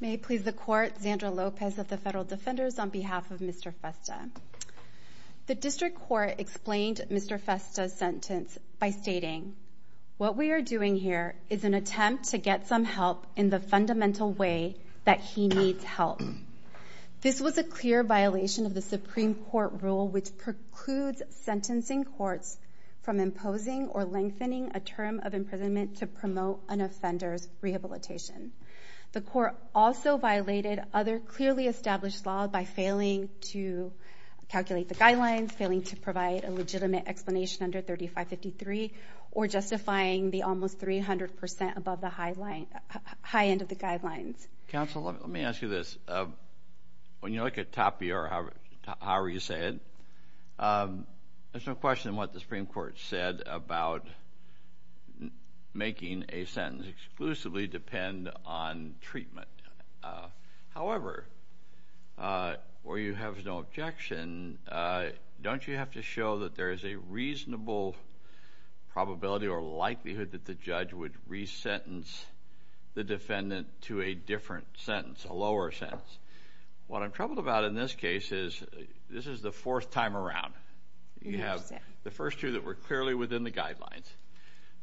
May it please the court, Zandra Lopez of the Federal Defenders on behalf of Mr. Festa. The district court explained Mr. Festa's sentence by stating, what we are doing here is an attempt to get some help in the fundamental way that he needs help. This was a clear violation of the Supreme Court rule, which precludes sentencing courts from imposing or lengthening a term of imprisonment to promote an offender's rehabilitation. The court also violated other clearly established law by failing to calculate the guidelines, failing to provide a legitimate explanation under 3553, or justifying the almost 300% above the high end of the guidelines. Counsel, let me ask you this. When you look at Tapia, or however you say it, there's no question what the Supreme Court said about making a sentence exclusively depend on treatment. However, where you have no objection, don't you have to show that there is a reasonable probability or likelihood that the judge would re-sentence the defendant to a different sentence, a lower sentence? What I'm troubled about in this case is, this is the fourth time around. You have the first two that were clearly within the guidelines.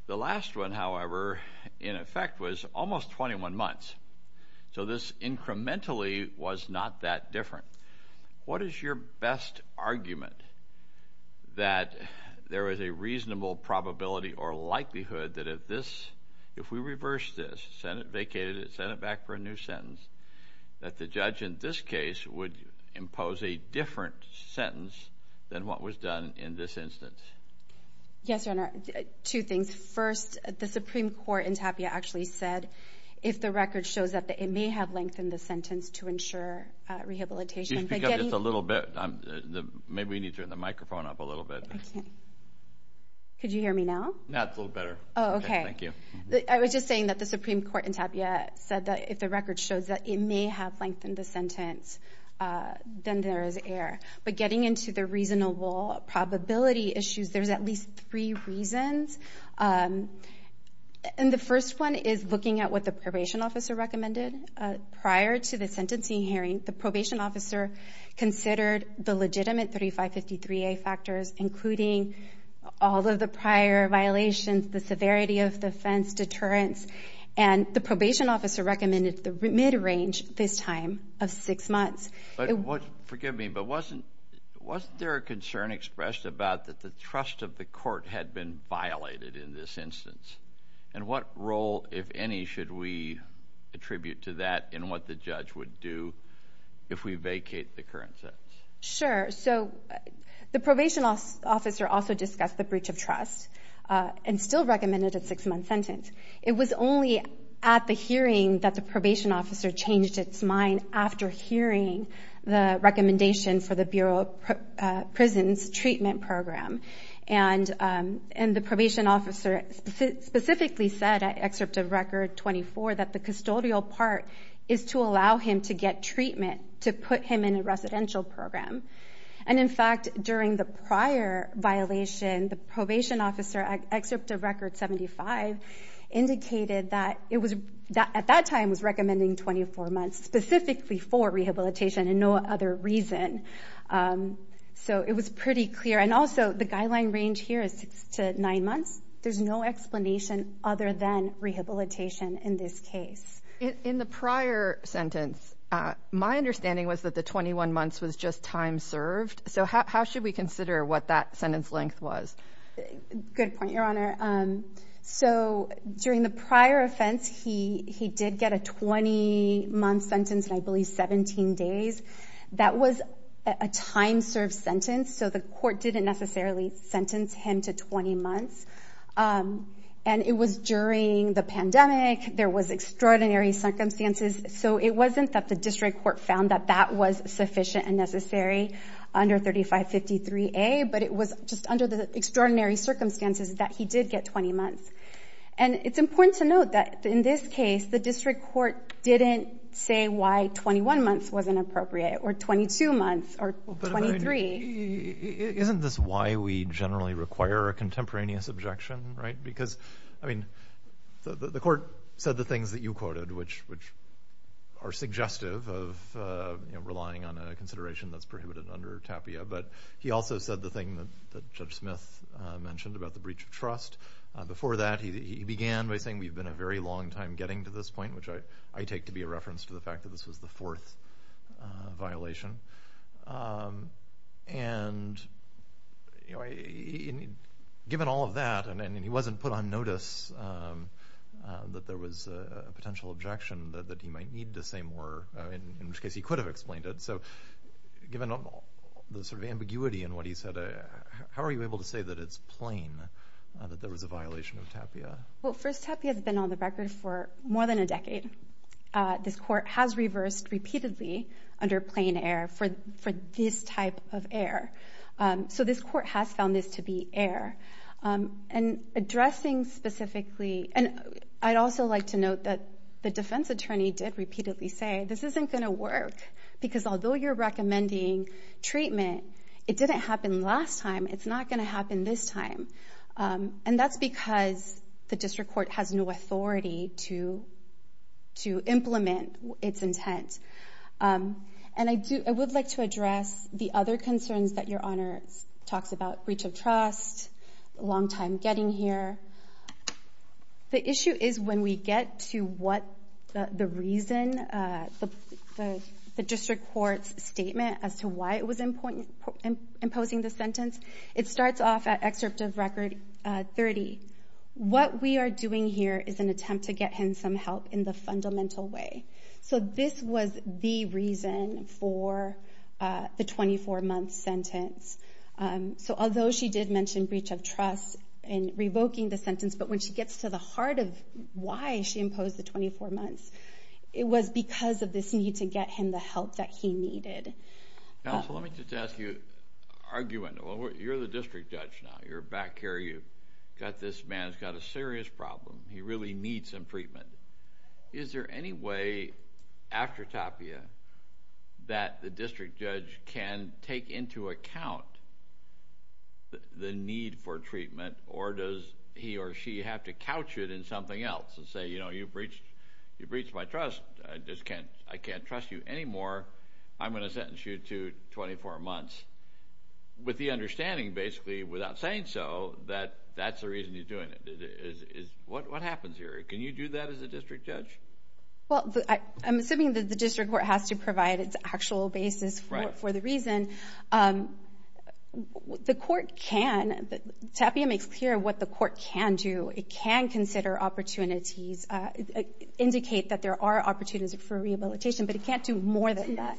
The last one, however, in effect was almost 21 months. So this incrementally was not that different. What is your best argument that there is a reasonable probability or likelihood that if we reverse this, send it vacated, send it back for a new sentence, that the judge in this case would impose a different sentence than what was done in this instance? Yes, Your Honor. Two things. First, the Supreme Court in Tapia actually said, if the record shows that it may have lengthened the sentence to ensure rehabilitation- Could you speak up just a little bit? Maybe we need to turn the microphone up a little bit. Could you hear me now? No, it's a little better. Oh, okay. Thank you. I was just saying that the Supreme Court in Tapia said that if the record shows that it may have lengthened the sentence, then there is error. But getting into the reasonable probability issues, there's at least three reasons. And the first one is looking at what the probation officer recommended. Prior to the sentencing hearing, the probation officer considered the legitimate 3553A factors, including all of the prior violations, the severity of the offense, deterrence. And the probation officer recommended the mid-range this time of six months. Forgive me, but wasn't there a concern expressed about that the trust of the court had been violated in this instance? And what role, if any, should we attribute to that in what the judge would do if we vacate the current sentence? Sure. So the probation officer also discussed the breach of trust and still recommended a six-month sentence. It was only at the hearing that the probation officer changed its mind after hearing the recommendation for the Bureau of Prisons Treatment Program. And the probation officer specifically said at Excerpt of Record 24 that the custodial part is to allow him to get treatment to put him in a residential program. And in fact, during the prior violation, the probation officer, Excerpt of Record 75, indicated that it was, at that time, was recommending 24 months specifically for rehabilitation and no other reason. So it was pretty clear. And also, the guideline range here is six to nine months. There's no explanation other than rehabilitation in this case. In the prior sentence, my understanding was that the 21 months was just time served. So how should we consider what that sentence length was? Good point, Your Honor. So during the prior offense, he did get a 20-month sentence and I believe 17 days. That was a time-served sentence, so the court didn't necessarily sentence him to 20 months. And it was during the pandemic. There was extraordinary circumstances. So it wasn't that the district court found that that was sufficient and necessary under 3553A, but it was just under the extraordinary circumstances that he did get 20 months. And it's important to note that in this case, the district court didn't say why 21 months wasn't appropriate or 22 months or 23. Isn't this why we generally require a contemporaneous objection, right? Because, I mean, the court said the things that you quoted, which are suggestive of relying on a consideration that's prohibited under TAPIA. But he also said the thing that Judge Smith mentioned about the breach of trust. Before that, he began by saying, we've been a very long time getting to this point, which I take to be a reference to the fact that this was the fourth violation. And given all of that, and he wasn't put on notice that there was a potential objection that he might need to say more, in which case he could have explained it. So given the sort of ambiguity in what he said, how are you able to say that it's plain that there was a violation of TAPIA? Well, first, TAPIA has been on the record for more than a decade. This court has reversed repeatedly under plain error for this type of error. So this court has found this to be error. And addressing specifically, and I'd also like to note that the defense attorney did repeatedly say, this isn't going to work because although you're recommending treatment, it didn't happen last time. It's not going to happen this time. And that's because the district court has no authority to implement its intent. And I would like to address the other concerns that your honor talks about, breach of trust, long time getting here. The issue is when we get to what the reason, the district court's statement as to why it was imposing the sentence. It starts off at excerpt of record 30. What we are doing here is an attempt to get him some help in the fundamental way. So this was the reason for the 24-month sentence. So although she did mention breach of trust in revoking the sentence, but when she gets to the heart of why she imposed the 24 months, it was because of this need to get him the help that he needed. Counsel, let me just ask you, arguing, you're the district judge now. You're back here, you've got this man, he's got a serious problem. He really needs some treatment. Is there any way after Tapia that the district judge can take into account the need for treatment? Or does he or she have to couch it in something else and say, you know, you've breached my trust. I just can't, I can't trust you anymore. I'm going to sentence you to 24 months. With the understanding, basically, without saying so, that that's the reason he's doing it. What happens here? Can you do that as a district judge? Well, I'm assuming that the district court has to provide its actual basis for the reason. The court can, Tapia makes clear what the court can do. It can consider opportunities, indicate that there are opportunities for rehabilitation, but it can't do more than that.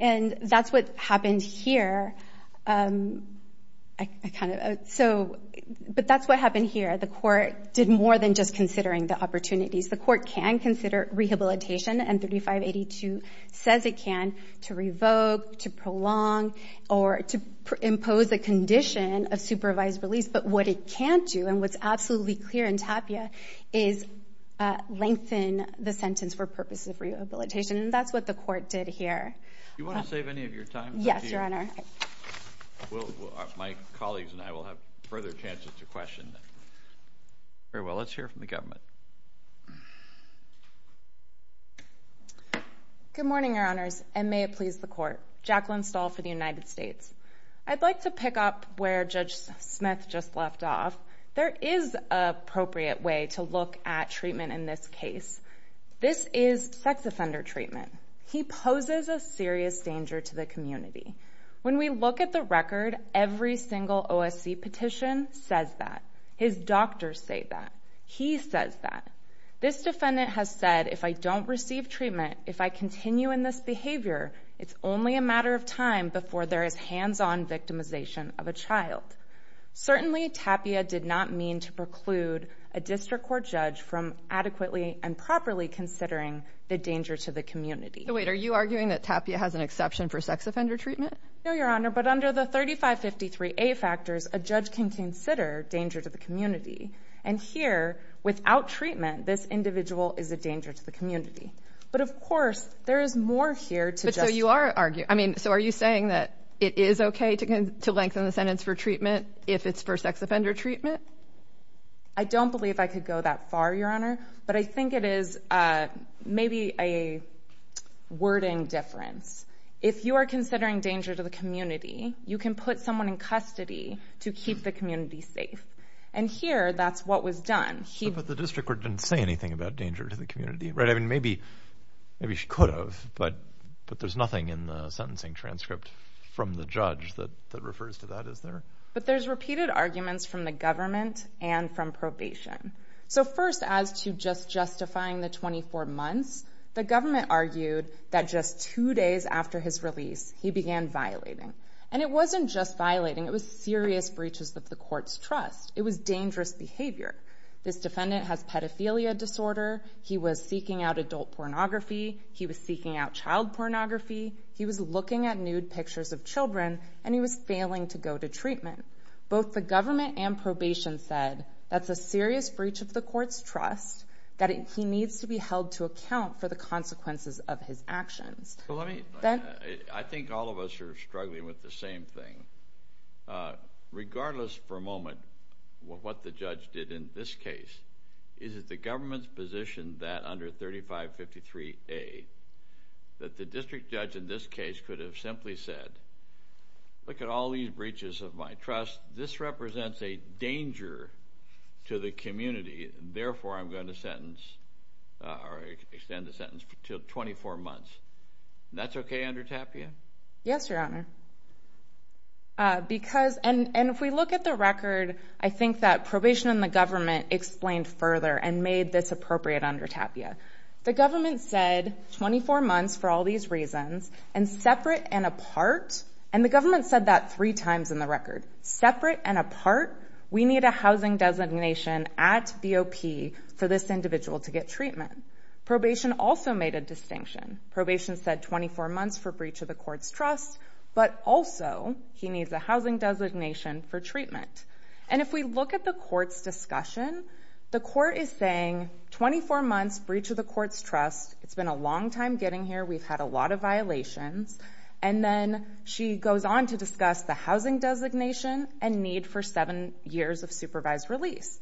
And that's what happened here. But that's what happened here. The court did more than just considering the opportunities. The court can consider rehabilitation, and 3582 says it can, to revoke, to prolong, or to impose a condition of supervised release. But what it can't do, and what's absolutely clear in Tapia, is lengthen the sentence for purposes of rehabilitation. And that's what the court did here. You want to save any of your time? Yes, Your Honor. My colleagues and I will have further chances to question. Very well, let's hear from the government. Good morning, Your Honors, and may it please the court. Jacqueline Stahl for the United States. I'd like to pick up where Judge Smith just left off. There is an appropriate way to look at treatment in this case. This is sex offender treatment. He poses a serious danger to the community. When we look at the record, every single OSC petition says that. His doctors say that. He says that. This defendant has said, if I don't receive treatment, if I continue in this behavior, it's only a matter of time before there is hands-on victimization of a child. Certainly, Tapia did not mean to preclude a district court judge from adequately and properly considering the danger to the community. Wait, are you arguing that Tapia has an exception for sex offender treatment? No, Your Honor, but under the 3553A factors, a judge can consider danger to the community. And here, without treatment, this individual is a danger to the community. But of course, there is more here to justify. But so you are arguing, I mean, so are you saying that it is OK to lengthen the sentence for treatment if it's for sex offender treatment? I don't believe I could go that far, Your Honor. But I think it is maybe a wording difference. If you are considering danger to the community, you can put someone in custody to keep the community safe. And here, that's what was done. But the district court didn't say anything about danger to the community, right? I mean, maybe she could have, but there's nothing in the sentencing transcript from the judge that refers to that, is there? But there's repeated arguments from the government and from probation. So first, as to just justifying the 24 months, the government argued that just two days after his release, he began violating. And it wasn't just violating. It was serious breaches of the court's trust. It was dangerous behavior. This defendant has pedophilia disorder. He was seeking out adult pornography. He was seeking out child pornography. He was looking at nude pictures of children. And he was failing to go to treatment. Both the government and probation said that's a serious breach of the court's trust, that he needs to be held to account for the consequences of his actions. I think all of us are struggling with the same thing. Regardless, for a moment, what the judge did in this case is that the government's positioned that under 3553A, that the district judge in this case could have simply said, look at all these breaches of my trust. This represents a danger to the community. Therefore, I'm going to sentence or extend the sentence to 24 months. That's OK, Under Tapia? Yes, Your Honor. And if we look at the record, I think that probation and the government explained further and made this appropriate under Tapia. The government said 24 months for all these reasons, and separate and apart. And the government said that three times in the record. Separate and apart, we need a housing designation at VOP for this individual to get treatment. Probation also made a distinction. Probation said 24 months for breach of the court's trust. But also, he needs a housing designation for treatment. And if we look at the court's discussion, the court is saying 24 months, breach of the court's trust. It's been a long time getting here. We've had a lot of violations. And then she goes on to discuss the housing designation and need for seven years of supervised release.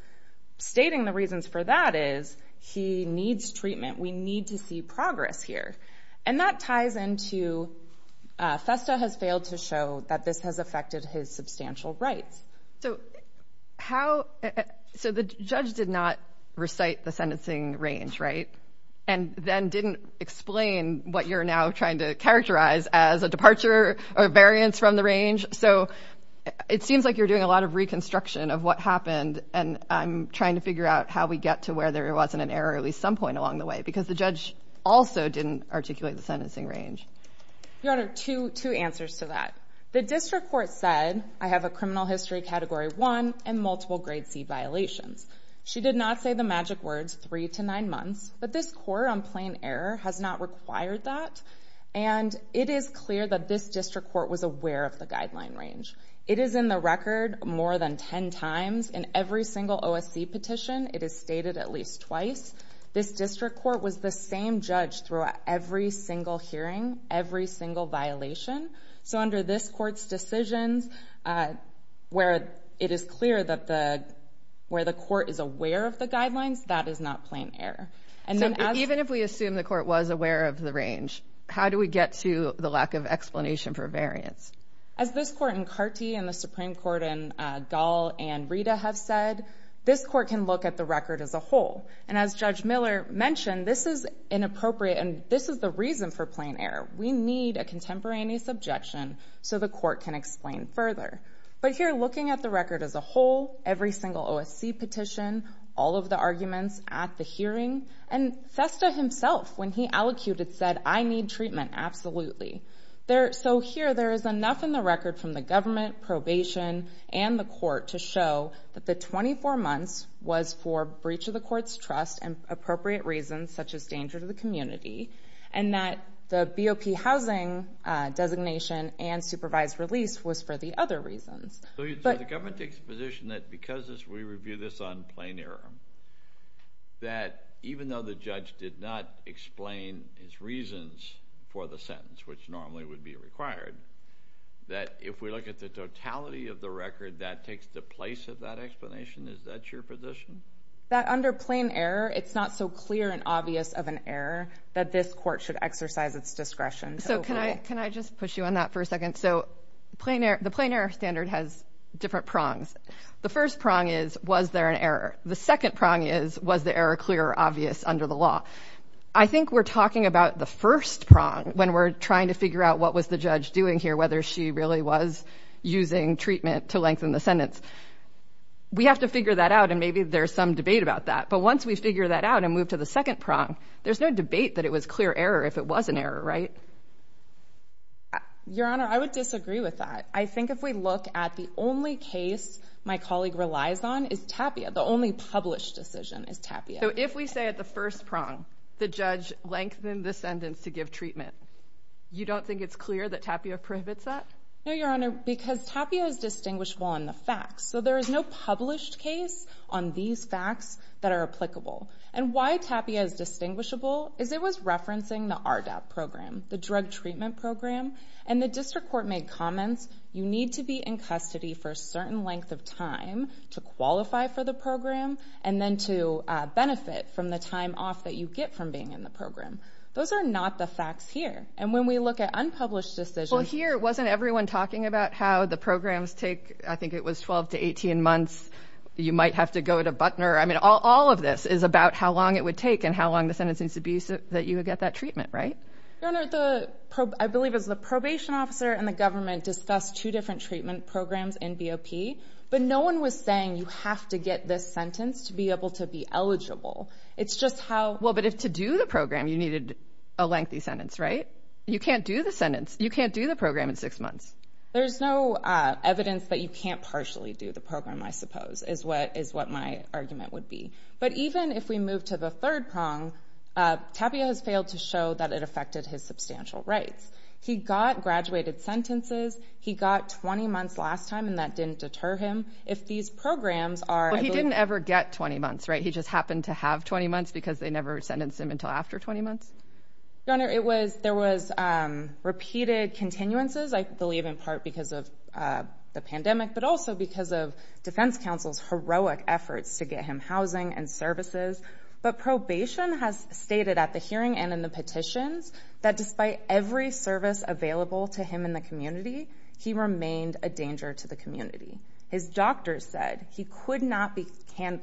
Stating the reasons for that is, he needs treatment. We need to see progress here. And that ties into FESTA has failed to show that this has affected his substantial rights. So the judge did not recite the sentencing range, right? And then didn't explain what you're now trying to characterize as a departure or variance from the range. So it seems like you're doing a lot of reconstruction of what happened. And I'm trying to figure out how we get to where there wasn't an error at least some point along the way. Because the judge also didn't articulate the sentencing range. Your Honor, two answers to that. The district court said, I have a criminal history category one and multiple grade C violations. She did not say the magic words three to nine months. But this court on plain error has not required that. And it is clear that this district court was aware of the guideline range. It is in the record more than 10 times in every single OSC petition. It is stated at least twice. This district court was the same judge throughout every single hearing, every single violation. So under this court's decisions, where it is clear that where the court is aware of the guidelines, that is not plain error. And even if we assume the court was aware of the range, how do we get to the lack of explanation for variance? As this court in Carte and the Supreme Court in Gall and Rita have said, this court can look at the record as a whole. And as Judge Miller mentioned, this is inappropriate, and this is the reason for plain error. We need a contemporaneous objection so the court can explain further. But here, looking at the record as a whole, every single OSC petition, all of the arguments at the hearing, and Festa himself, when he allocated, said, I need treatment, absolutely. So here, there is enough in the record from the government, probation, and the court to show that the 24 months was for breach of the court's trust and appropriate reasons, such as danger to the community, and that the BOP housing designation and supervised release was for the other reasons. So the government takes the position that because we review this on plain error, that even though the judge did not explain his reasons for the sentence, which normally would be required, that if we look at the totality of the record, that takes the place of that explanation? Is that your position? That under plain error, it's not so clear and obvious of an error that this court should exercise its discretion to overrule? Can I just push you on that for a second? So the plain error standard has different prongs. The first prong is, was there an error? The second prong is, was the error clear or obvious under the law? I think we're talking about the first prong when we're trying to figure out what was the judge doing here, whether she really was using treatment to lengthen the sentence. We have to figure that out, and maybe there's some debate about that. But once we figure that out and move to the second prong, there's no debate that it was clear error if it was an error, right? Your Honor, I would disagree with that. I think if we look at the only case my colleague relies on is Tapia, the only published decision is Tapia. So if we say at the first prong, the judge lengthened the sentence to give treatment, you don't think it's clear that Tapia prohibits that? No, Your Honor, because Tapia is distinguishable in the facts. So there is no published case on these facts that are applicable. And why Tapia is distinguishable is it was referencing the RDAP program, the drug treatment program. And the district court made comments, you need to be in custody for a certain length of time to qualify for the program, and then to benefit from the time off that you get from being in the program. Those are not the facts here. And when we look at unpublished decisions. Well, here, wasn't everyone talking about how the programs take, I think it was 12 to 18 months. You might have to go to Butner. I mean, all of this is about how long it would take and how long the sentence needs to be so that you would get that treatment, right? Your Honor, I believe it was the probation officer and the government discussed two different treatment programs in BOP. But no one was saying you have to get this sentence to be able to be eligible. It's just how. Well, but to do the program, you needed a lengthy sentence, right? You can't do the sentence. You can't do the program in six months. There's no evidence that you can't partially do the program, I suppose, is what my argument would be. But even if we move to the third prong, Tapio has failed to show that it affected his substantial rights. He got graduated sentences. He got 20 months last time, and that didn't deter him. If these programs are. He didn't ever get 20 months, right? He just happened to have 20 months because they never sentenced him until after 20 months? Your Honor, there was repeated continuances. I believe in part because of the pandemic, but also because of defense counsel's heroic efforts to get him housing and services. But probation has stated at the hearing and in the petitions that despite every service available to him in the community, he remained a danger to the community. His doctor said he could not be.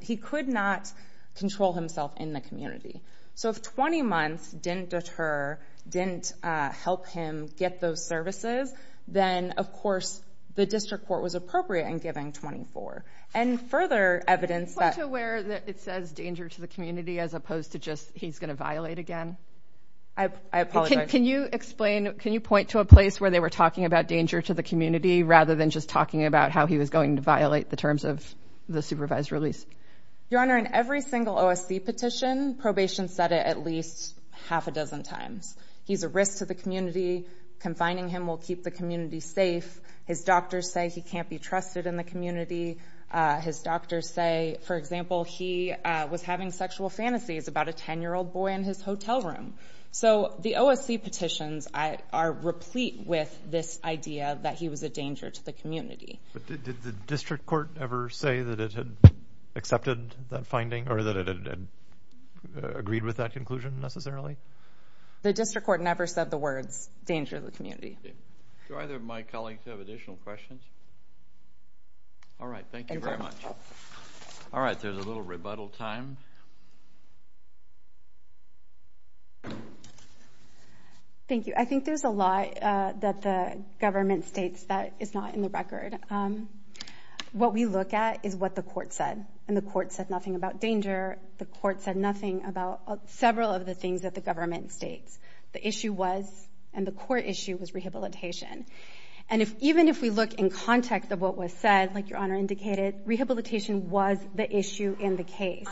He could not control himself in the community. So if 20 months didn't deter, didn't help him get those services, then of course, the district court was appropriate in giving 24. And further evidence that. Are you aware that it says danger to the community as opposed to just he's going to violate again? I apologize. Can you explain, can you point to a place where they were talking about danger to the community rather than just talking about how he was going to violate the terms of the supervised release? Your Honor, in every single OSC petition, probation said it at least half a dozen times. He's a risk to the community. Confining him will keep the community safe. His doctors say he can't be trusted in the community. His doctors say, for example, he was having sexual fantasies about a 10-year-old boy in his hotel room. So the OSC petitions are replete with this idea that he was a danger to the community. But did the district court ever say that it had accepted that finding or that it had agreed with that conclusion necessarily? The district court never said the words danger to the community. Do either of my colleagues have additional questions? All right, thank you very much. All right, there's a little rebuttal time. Thank you. I think there's a lot that the government states that is not in the record. What we look at is what the court said. And the court said nothing about danger. The court said nothing about several of the things that the government states. The issue was, and the court issue, was rehabilitation. And even if we look in context of what was said, like Your Honor indicated, rehabilitation was the issue in the case.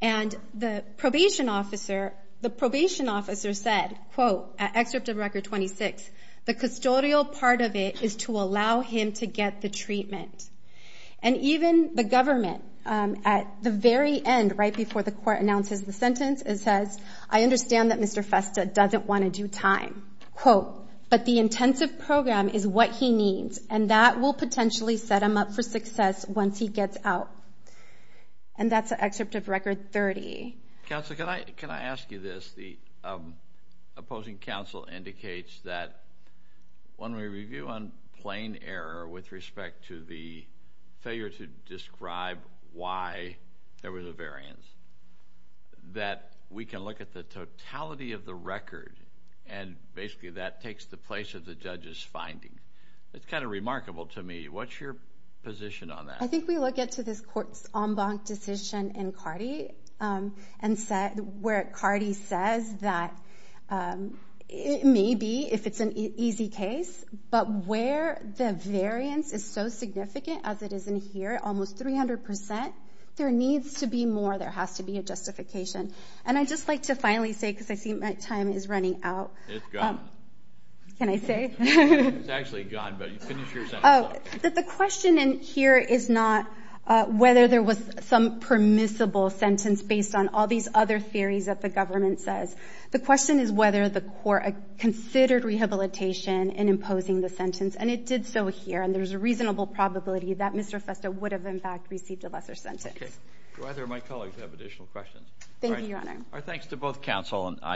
And the probation officer said, quote, at excerpt of Record 26, the custodial part of it is to allow him to get the treatment. And even the government, at the very end, right before the court announces the sentence, it says, I understand that Mr. Festa doesn't want to do time, quote, but the intensive program is what he needs, and that will potentially set him up for success once he gets out. And that's an excerpt of Record 30. Counsel, can I ask you this? The opposing counsel indicates that when we review on plain error with respect to the failure to describe why there was a variance, that we can look at the totality of the record, and basically that takes the place of the judge's finding. It's kind of remarkable to me. What's your position on that? I think we look into this court's en banc decision in Cardi, where Cardi says that it may be, if it's an easy case, but where the variance is so significant, as it is in here, almost 300%, there needs to be more, there has to be a justification. And I'd just like to finally say, because I see my time is running out. It's gone. Can I say? It's actually gone, but you finished your sentence. Oh, the question in here is not whether there was some permissible sentence based on all these other theories that the government says. The question is whether the court considered rehabilitation in imposing the sentence, and it did so here, and there's a reasonable probability that Mr. Festa would have, in fact, received a lesser sentence. Okay, do either of my colleagues have additional questions? Thank you, Your Honor. All right, our thanks to both counsel and I.